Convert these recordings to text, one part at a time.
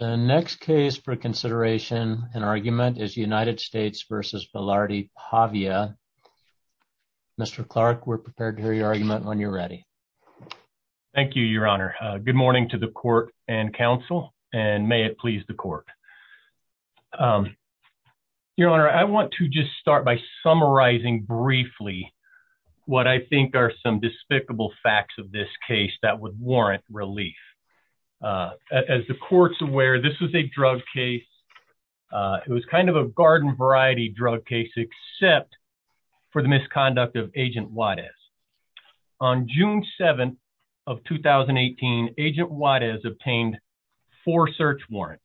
The next case for consideration and argument is United States v. Velarde-Pavia. Mr. Clark, we're prepared to hear your argument when you're ready. Thank you, Your Honor. Good morning to the court and counsel, and may it please the court. Your Honor, I want to just start by summarizing briefly what I think are some despicable facts of this case that would warrant relief. As the court's aware, this was a drug case. It was kind of a garden variety drug case, except for the misconduct of Agent Juarez. On June 7th of 2018, Agent Juarez obtained four search warrants.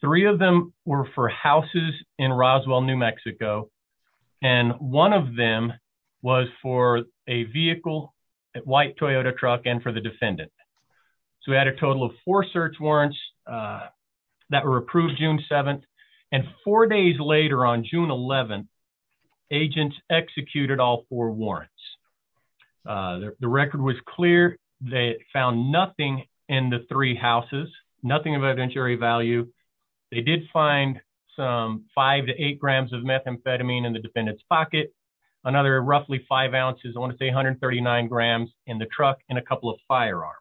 Three of them were for houses in Roswell, New Mexico, and one of them was for a vehicle, a white Toyota truck, and for the defendant. So we had a total of four search warrants that were approved June 7th, and four days later on June 11th, agents executed all four warrants. The record was clear. They found nothing in the three houses, nothing of evidentiary value. They did find some five to eight grams of methamphetamine in the defendant's pocket, another roughly five ounces, I want to say 139 grams, in the truck, and a couple of firearms.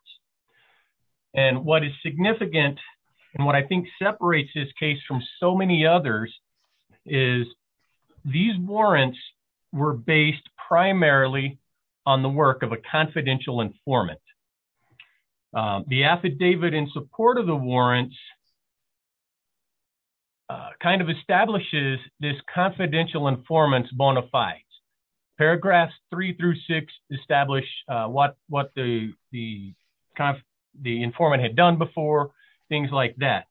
And what is significant, and what I think separates this case from so many others, is these warrants were based primarily on the work of a confidential informant. The affidavit in support of the warrants kind of establishes this confidential informant's bona fides. Paragraphs three through six establish what the informant had done before, things like that.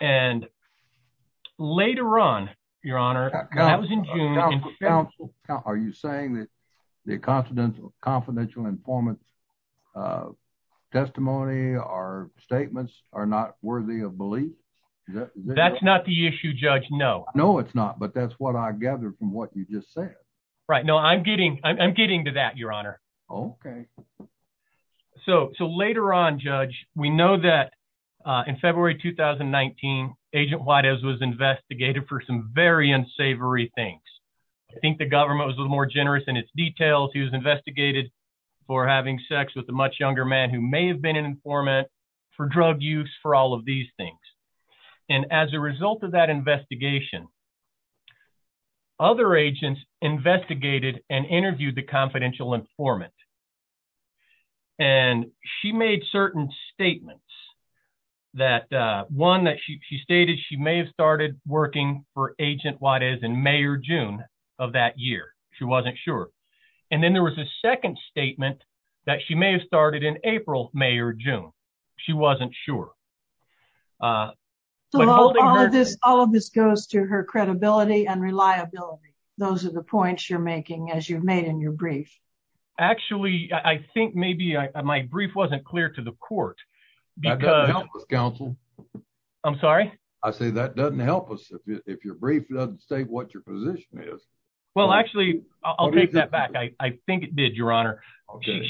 And later on, your honor, that was in June- Are you saying that the confidential informant's testimony or statements are not worthy of belief? That's not the issue, Judge, no. No, it's not, but that's what I gather from what you just said. Right, no, I'm getting to that, your honor. Okay. So later on, Judge, we know that in February 2019, Agent Whitehouse was investigated for some very unsavory things. I think the government was a little more generous in its details, he was investigated for having sex with a much younger man who may have been an informant, for drug use, for all of these things. And as a result of that investigation, other agents investigated and interviewed the confidential informant. And she made certain statements that, one, that she stated she may have started working for Agent Whitehouse in May or June of that year, she wasn't sure. And then there was a second statement that she may have started in April, May or June, she wasn't sure. So all of this goes to her credibility and reliability, those are the points you're making as you've made in your brief. Actually, I think maybe my brief wasn't clear to the court. That doesn't help us, counsel. I'm sorry? I say that doesn't help us if your brief doesn't state what your position is. Well, actually, I'll take that back. I think it did, your honor.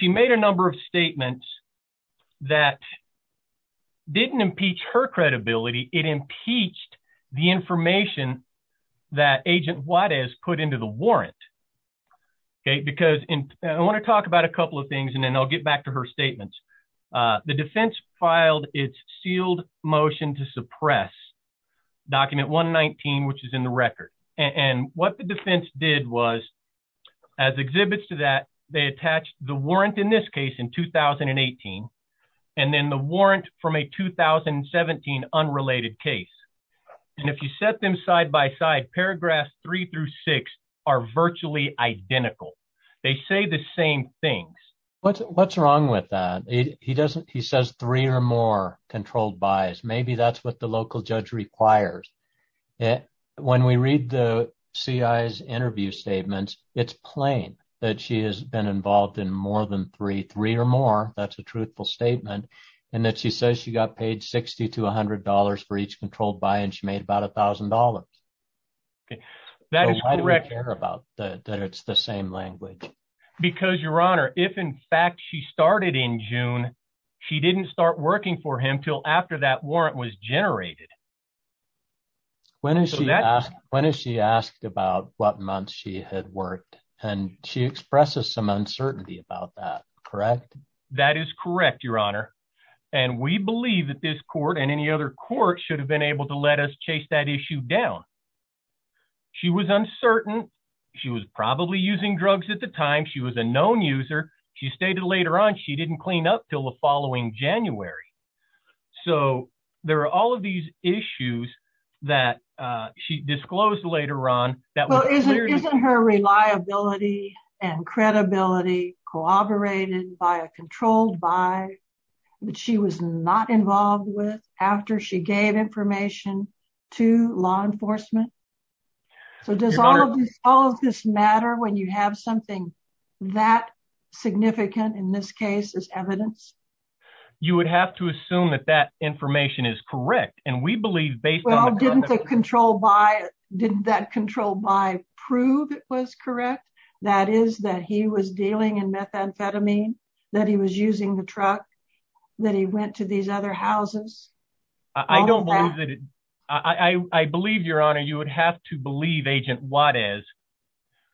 She made a number of statements that didn't impeach her credibility, it impeached the information that Agent Whitehouse put into the warrant. Okay, because I want to talk about a couple of things and then I'll get back to her statements. The defense filed its sealed motion to suppress document 119, which is in the record. And what the defense did was, as exhibits to that, they attached the warrant in this case in 2018, and then the warrant from a 2017 unrelated case. And if you set them side by side, paragraphs three through six are virtually identical. They say the same things. What's wrong with that? He says three or more controlled buys, maybe that's what the local judge requires. When we read the CI's interview statements, it's plain that she has been involved in more than three, three or more, that's a truthful statement. And that she says she got paid $60 to $100 for each controlled buy and she made about $1,000. Okay, that is correct. Why do we care about that it's the same language? Because your honor, if in fact she started in June, she didn't start working for him till after that warrant was generated. When is she asked, when is she asked about what months she had worked, and she expresses some uncertainty about that, correct? That is correct, your honor. And we believe that this court and any other court should have been able to let us chase that issue down. She was uncertain. She was probably using drugs at the time. She was a known user. She stated later on, she didn't clean up till the following January. So there are all of these issues that she disclosed later on. Well, isn't her reliability and credibility corroborated by a controlled buy that she was not involved with after she gave information to law enforcement? So does all of this matter when you have something that significant in this case as evidence? You would have to assume that that information is correct. And we believe based on the control by didn't that control by prove it was correct. That is that he was dealing in methamphetamine, that he was using the truck, that he went to these other houses. I don't believe that. I believe your honor, you would have to believe agent what is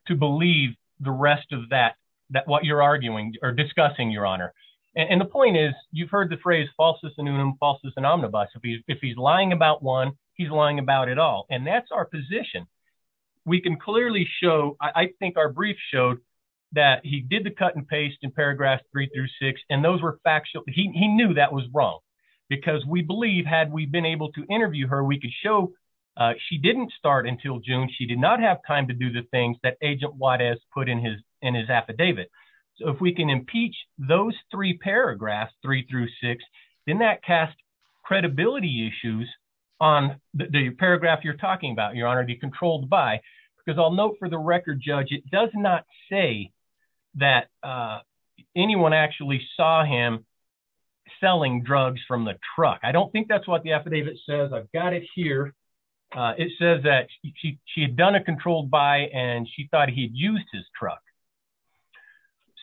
to believe the rest of that, that what you're arguing or discussing your honor. And the point is, you've heard the phrase falsest and falsest and omnibus. If he's lying about one, he's lying about it all. And that's our position. We can clearly show I think our brief showed that he did the cut and paste in paragraphs three through six. And those were factual. He knew that was wrong because we believe had we been able to interview her, we could show she didn't start until June. She did not have time to do the things that agent what has put in his, in his affidavit. So if we can impeach those three paragraphs, three through six, then that cast credibility issues on the paragraph you're talking about, your honor, decontrolled by, because I'll note for the record, judge, it does not say that anyone actually saw him selling drugs from the truck. I don't think that's what the affidavit says. I've got it here. It says that she had done a controlled by, and she thought he'd used his truck.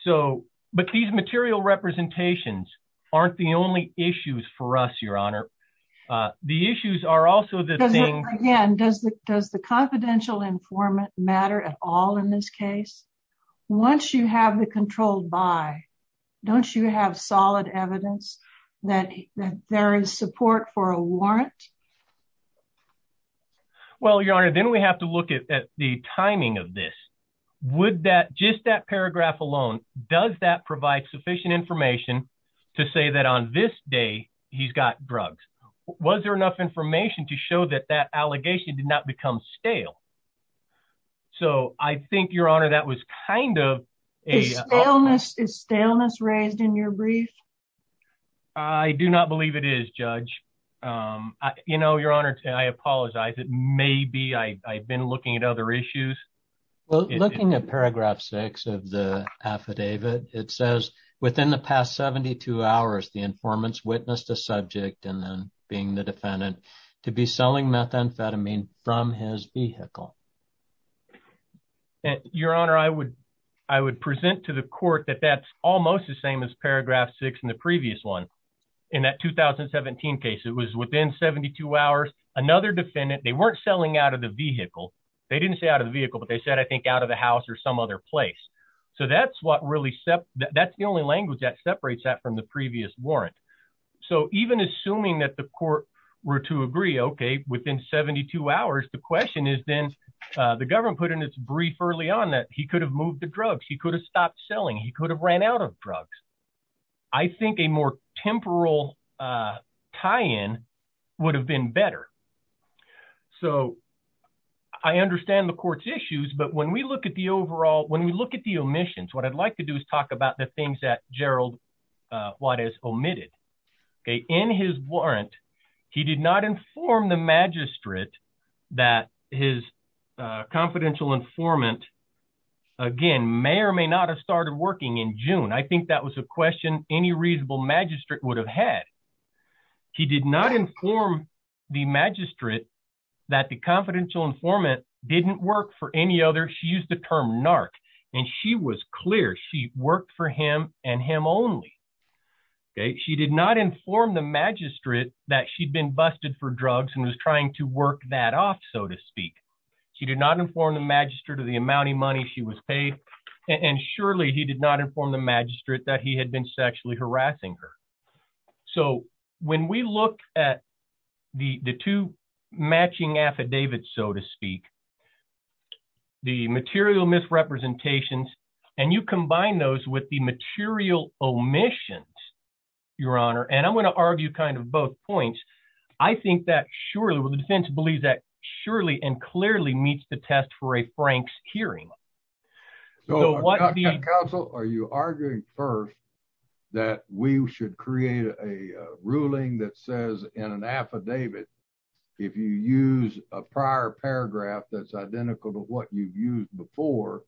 So, but these material representations aren't the only issues for us, your honor. The issues are also the thing. Again, does the, does the confidential informant matter at all in this case? Once you have the controlled by, don't you have solid evidence that there is support for a warrant? Well, your honor, then we have to look at the timing of this. Would that, just that paragraph alone, does that provide sufficient information to say that on this day, he's got drugs? Was there information to show that that allegation did not become stale? So I think your honor, that was kind of a, is staleness raised in your brief? I do not believe it is judge. You know, your honor, I apologize. It may be, I've been looking at other issues. Well, looking at paragraph six of the affidavit, it says within the past 72 hours, the informants witnessed a subject and then being the defendant to be selling methamphetamine from his vehicle. Your honor, I would, I would present to the court that that's almost the same as paragraph six in the previous one. In that 2017 case, it was within 72 hours, another defendant, they weren't selling out of the vehicle. They didn't say out of the vehicle, but they said, I think out of the house or some other place. So that's what really, that's the only language that separates that from the previous warrant. So even assuming that the court were to agree, okay, within 72 hours, the question is then the government put in its brief early on that he could have moved the drugs. He could have stopped selling. He could have ran out of drugs. I think a more temporal tie-in would have been better. So I understand the court's issues, but when we look at the overall, when we look at the omissions, what I'd like to do is talk about the things that Gerald Juarez omitted. Okay. In his warrant, he did not inform the magistrate that his confidential informant, again, may or may not have started working in June. I think that was a question any reasonable magistrate would have had. He did not inform the magistrate that the confidential informant didn't work for any other, she used the term narc, and she was clear she worked for him and him only. She did not inform the magistrate that she'd been busted for drugs and was trying to work that off, so to speak. She did not inform the magistrate of the amount of money she was paid, and surely he did not inform the magistrate that he had been sexually harassing her. So when we look at the two matching affidavits, so to speak, the material misrepresentations, and you combine those with the material omissions, Your Honor, and I'm going to argue kind of both points. I think that surely, well, the defense believes that surely and clearly meets the test for a Frank's hearing. Counsel, are you arguing first that we should create a ruling that says in an affidavit, if you use a prior paragraph that's identical to what you've used before,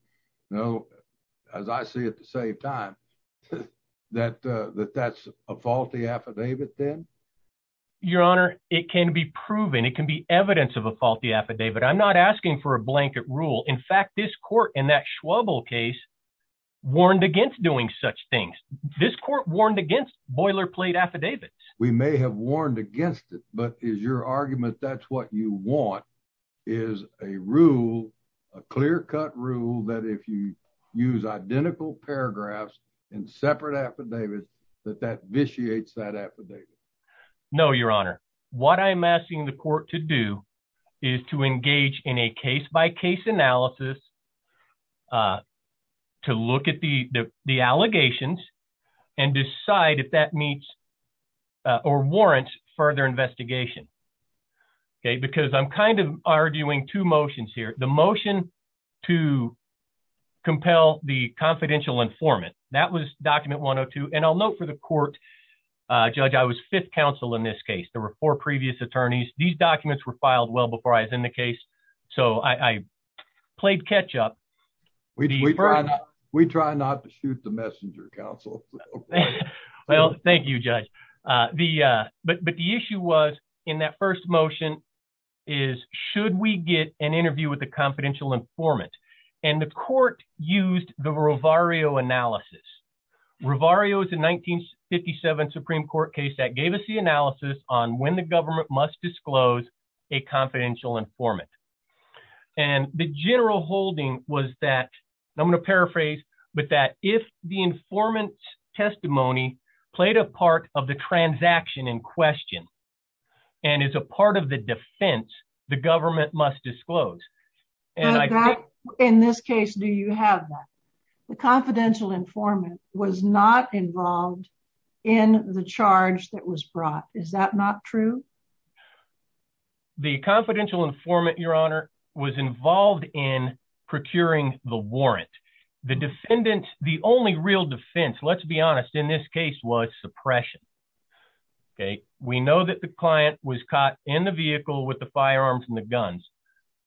you know, as I see it, to save time, that that's a faulty affidavit then? Your Honor, it can be proven. It can be evidence of a faulty affidavit. I'm not asking for a blanket rule. In fact, this court in that Schwabel case warned against doing such things. This court warned against boilerplate affidavits. We may have warned against it, but is your argument that's what you want is a rule, a clear-cut rule, that if you use identical paragraphs in separate affidavits, that that vitiates that affidavit? No, Your Honor. What I'm asking the court to do is to engage in a case-by-case analysis to look at the allegations and decide if that meets or warrants further investigation. Okay, because I'm kind of arguing two motions here. The motion to compel the confidential informant, that was document 102, and I'll note for the court, Judge, I was fifth counsel in this case. There were four previous attorneys. These documents were filed well before I was in the case, so I played catch-up. We try not to shoot the messenger counsel. Well, thank you, Judge, but the issue was in that first motion is should we get an interview with the confidential informant, and the court used the Rovario analysis. Rovario is a 1957 Supreme Court case that gave us the analysis on when the government must disclose a confidential informant, and the general holding was that, I'm going to paraphrase, but that if the informant's testimony played a part of the transaction in question and is a part of the defense, the government must disclose. In this case, do you have that? The confidential informant was not involved in the charge that was brought. Is that not true? The confidential informant, Your Honor, was involved in procuring the warrant. The defendant, the only real defense, let's be honest, in this case was suppression. We know that the client was caught in the vehicle with the firearms and the guns,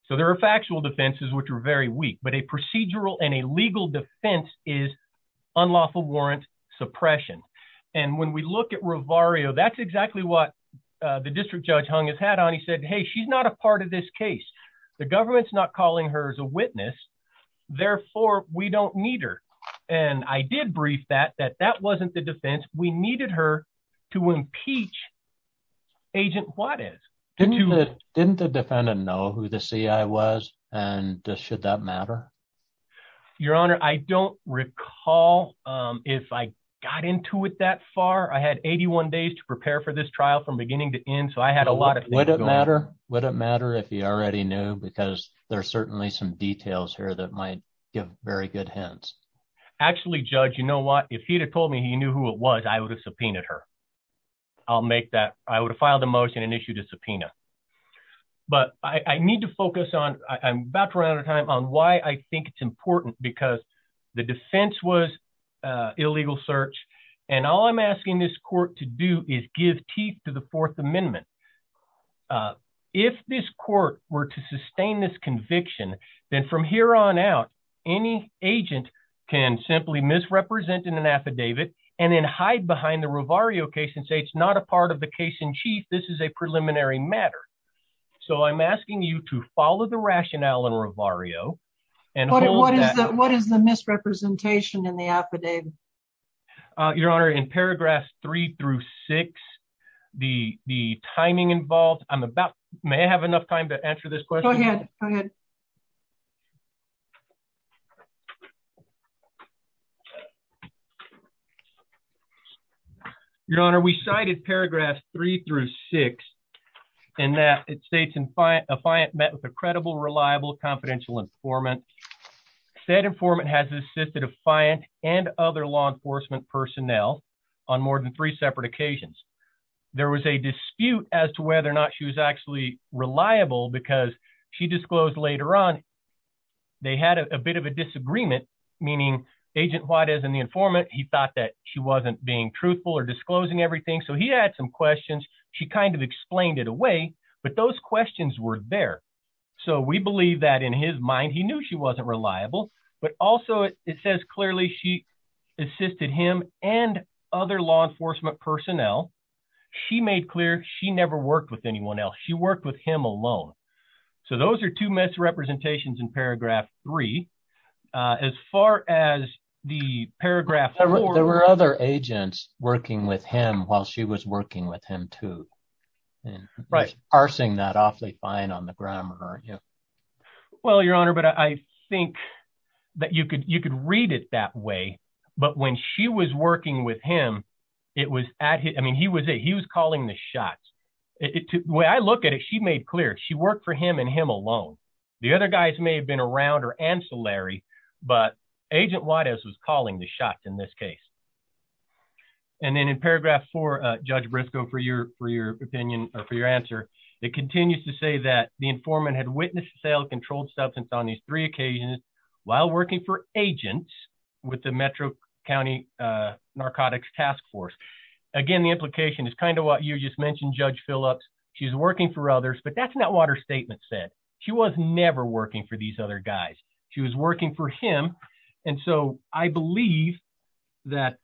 so there are factual defenses, which are very weak, but a procedural and a legal defense is unlawful warrant suppression, and when we look at Rovario, that's exactly what the district judge hung his hat on. He said, hey, she's not a part of this case. The government's not calling her as a witness, therefore, we don't need her, and I did brief that, that that wasn't the defense. We needed her to impeach Agent Juarez. Didn't the defendant know who the CI was, and should that matter? Your Honor, I don't recall if I got into it that far. I had 81 days to prepare for this trial from beginning to end, so I had a lot of things going on. Would it matter if he already knew, because there's certainly some details here that might give very good hints. Actually, Judge, you know what? If he'd have told me he knew who it was, I would have subpoenaed her. I'll make that, I would have filed a motion and issued a subpoena, but I need to focus on, I'm about out of time, on why I think it's important, because the defense was illegal search, and all I'm asking this court to do is give teeth to the Fourth Amendment. If this court were to sustain this conviction, then from here on out, any agent can simply misrepresent in an affidavit and then hide behind the Rovario case and say it's not a part of the case in chief, this is a preliminary matter. So I'm asking you to follow the rationale in Rovario. What is the misrepresentation in the affidavit? Your Honor, in paragraphs three through six, the timing involved, I'm about, may I have enough time to answer this question? Go ahead, go ahead. Your Honor, we cited paragraphs three through six, in that it states, a client met with a credible, reliable, confidential informant. Said informant has assisted a client and other law enforcement personnel on more than three separate occasions. There was a dispute as to whether or not she was actually reliable because she disclosed later on they had a bit of a disagreement, meaning Agent Juarez and the informant, he thought that she wasn't being truthful or disclosing everything. So he had some questions. She kind of explained it away, but those questions were there. So we believe that in his mind, he knew she wasn't reliable, but also it says clearly she assisted him and other law enforcement personnel. She made clear she never worked with anyone else. She worked with him alone. So those are two misrepresentations in paragraph three. As far as the paragraph four. There were other agents working with him while she was working with him too. And parsing that awfully fine on the grammar, aren't you? Well, Your Honor, but I think that you could, you could read it that way. But when she was working with him, it was at, I mean, he was, he was calling the shots. When I look at it, she made clear she worked for him and him alone. The other guys may have been around or ancillary, but Agent Juarez was calling the shots in this case. And then in paragraph four, Judge Briscoe, for your, for your opinion or for your answer, it continues to say that the informant had witnessed the sale of controlled substance on these three occasions while working for agents with the Metro County Narcotics Task Force. Again, the implication is kind of what you just Judge Phillips, she's working for others, but that's not what her statement said. She was never working for these other guys. She was working for him. And so I believe that,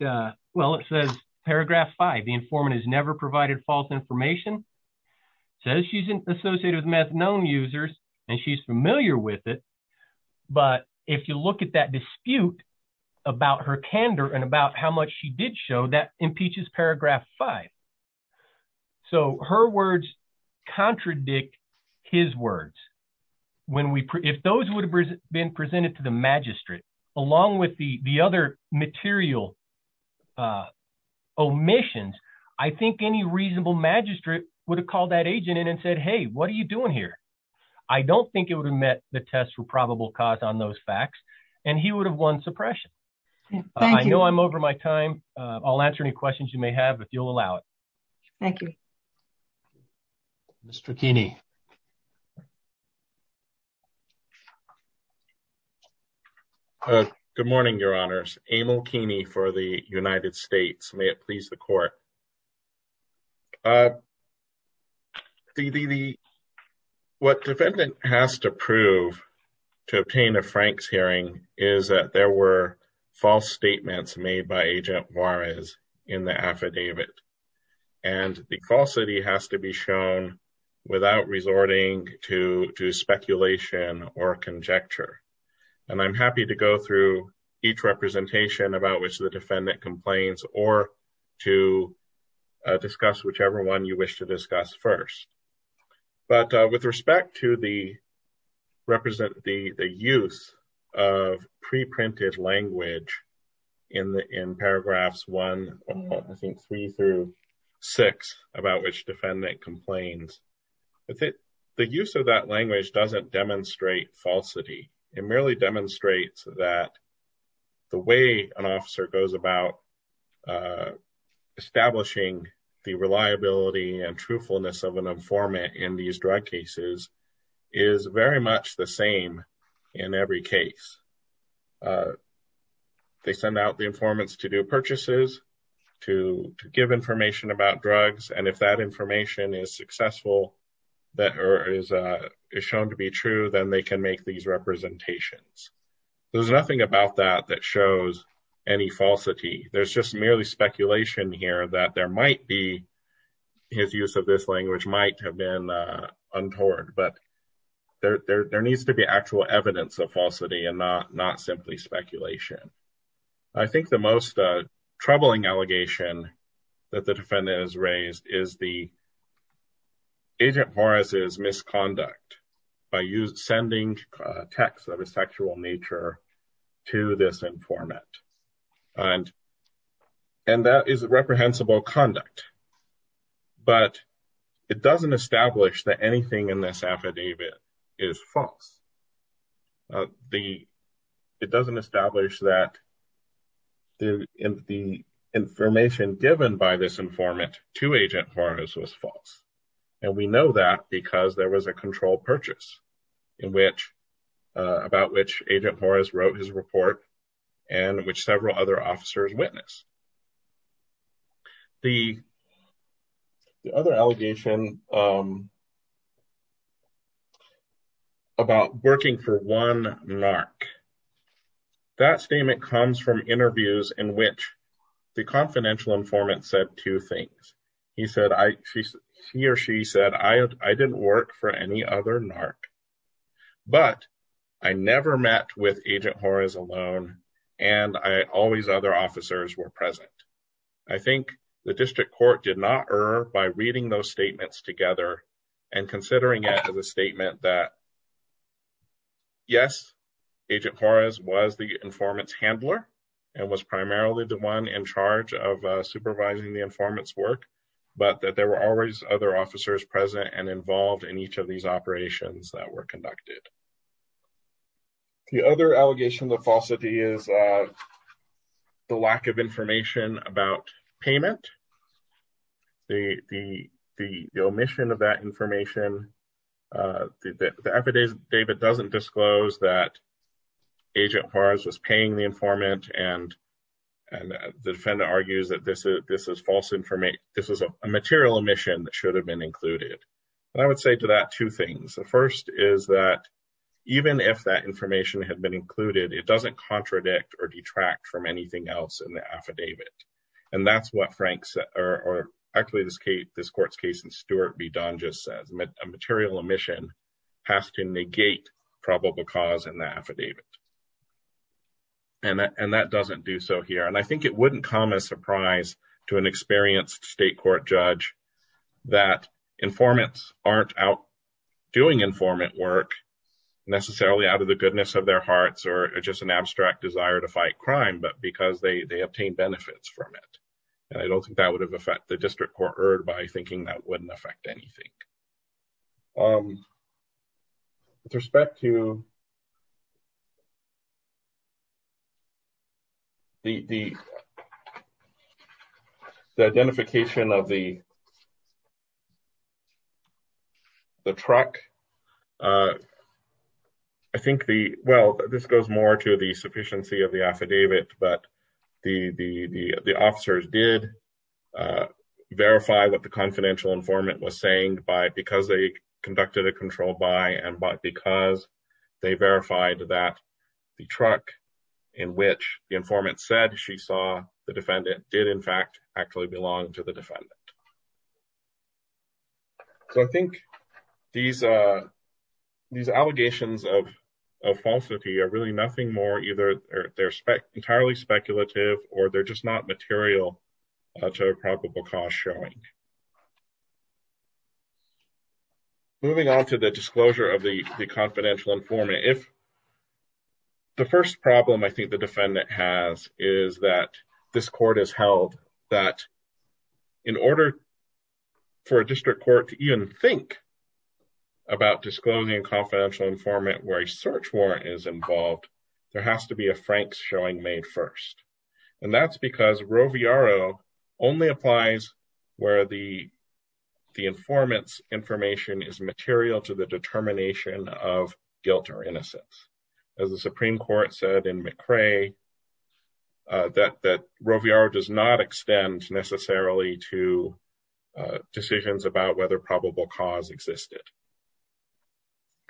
well, it says paragraph five, the informant has never provided false information. So she's associated with meth known users, and she's familiar with it. But if you look at that dispute about her candor and about how much she did show that impeaches paragraph five. So her words contradict his words. When we, if those would have been presented to the magistrate, along with the, the other material omissions, I think any reasonable magistrate would have called that agent in and said, Hey, what are you doing here? I don't think it would have met the test for probable cause on those facts. And he would have won suppression. I know I'm over my time. I'll answer any questions you may have, but you'll allow it. Thank you, Mr. Keeney. Good morning, your honors, Emil Keeney for the United States. May it please the court. What defendant has to prove to obtain a Frank's hearing is that there were false statements made by agent Juarez in the affidavit. And the call city has to be shown without resorting to, to speculation or conjecture. And I'm happy to go through each representation about which the defendant complains or to discuss whichever one you wish to discuss first. But with respect to the represent the use of preprinted language in the, in paragraphs one, I think three through six about which defendant complains with it. The use of that language doesn't demonstrate falsity. It merely demonstrates that the way an officer goes about establishing the reliability and format in these drug cases is very much the same in every case. They send out the informants to do purchases, to give information about drugs. And if that information is successful, that is shown to be true, then they can make these representations. There's nothing about that that shows any falsity. There's just merely speculation here that there have been untoward, but there needs to be actual evidence of falsity and not simply speculation. I think the most troubling allegation that the defendant has raised is the agent Juarez's misconduct by sending a text of a sexual nature to this informant. And that is reprehensible conduct. But it doesn't establish that anything in this affidavit is false. It doesn't establish that the information given by this informant to agent Juarez was false. And we know that because there was a controlled purchase about which agent Juarez wrote his report and which several other officers witnessed. The other allegation about working for one narc, that statement comes from interviews in which the confidential informant said two things. He or she said, I didn't work for any other narc, but I never met with agent Juarez alone, and always other officers were present. I think the district court did not err by reading those statements together and considering it as a statement that, yes, agent Juarez was the informant's handler and was primarily the one in charge of supervising the informant's work, but that there were always other officers present and involved in each of these operations that were conducted. The other allegation of falsity is the lack of information about payment. The omission of that information, the affidavit doesn't disclose that agent Juarez was paying the informant and the defendant argues that this is a material omission that should have been included. And I would say to that two things. The first is that even if that information had been included, it doesn't contradict or detract from anything else in the affidavit. And that's what this court's case in Stewart v. Don just says, a material omission has to negate probable cause in the affidavit. And that doesn't do so here. And I think it wouldn't come as a surprise to an experienced state court judge that informants aren't out doing informant work necessarily out of the goodness of their hearts or just an abstract desire to fight crime, but because they obtained benefits from it. And I don't think that would have the district court heard by thinking that wouldn't affect anything. With respect to the identification of the truck, I think the, well, this goes more to the sufficiency of the verify what the confidential informant was saying by because they conducted a control by and by because they verified that the truck in which the informant said she saw the defendant did in fact actually belong to the defendant. So I think these allegations of falsity are really nothing more either they're entirely speculative or they're just not material to a probable cause showing. Moving on to the disclosure of the confidential informant. If the first problem I think the defendant has is that this court has held that in order for a district court to even think about disclosing a confidential informant where a search warrant is involved, there has to be a frank showing made first. And that's because Roviaro only applies where the informant's information is material to the determination of guilt or innocence. As the Supreme Court said in McCrae that Roviaro does not extend necessarily to decisions about whether a confidential informant is guilty or not.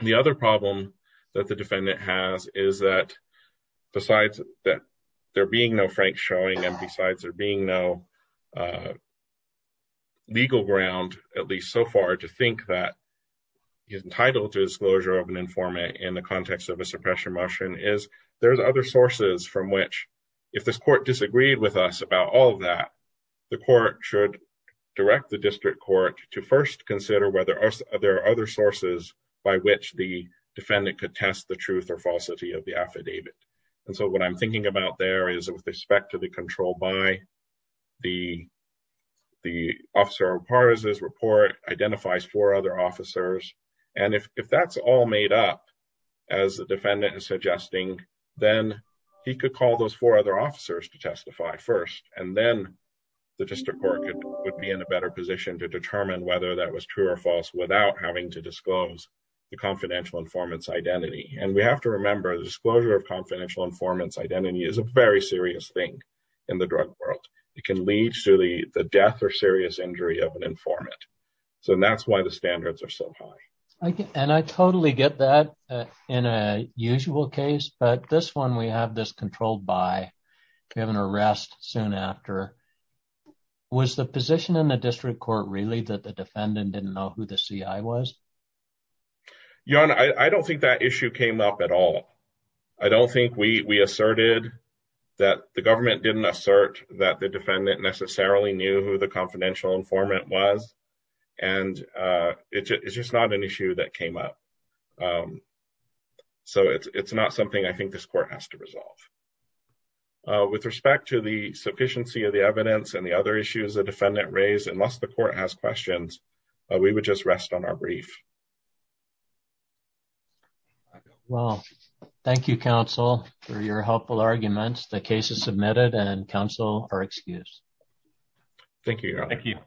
So I think the defendant is entitled to a disclosure of an informant in the context of a suppression motion. And I don't think that there's any other probable cause existed. The other problem that the defendant has is that besides that there being no frank showing and besides there being no legal ground at least so far to think that he's entitled to disclosure of an informant in the context of a suppression motion is there's other sources from which if this court disagreed with us about all of that the court should direct the district court to first consider whether there are other sources by which the defendant could test the truth or falsity of the affidavit. And so what I'm thinking about there is with respect to the control by the officer of partisan report identifies four other officers and if that's all made up as the defendant is suggesting then he could call those four other officers to testify first and then the district court would be in a better position to determine whether that was true or false without having to disclose the confidential informant's identity. And we have to remember the disclosure of confidential informant's identity is a very serious thing in the drug world. It can lead to the death or serious injury of an informant. So that's why the standards are so high. And I totally get that in a usual case but this one we have this controlled by we have an arrest soon after. Was the position in the district court really that defendant didn't know who the CI was? Your Honor, I don't think that issue came up at all. I don't think we asserted that the government didn't assert that the defendant necessarily knew who the confidential informant was and it's just not an issue that came up. So it's not something I think this court has to resolve. With respect to the sufficiency of the we would just rest on our brief. Well, thank you, counsel, for your helpful arguments. The case is submitted and counsel are excused. Thank you, Your Honor. Thank you.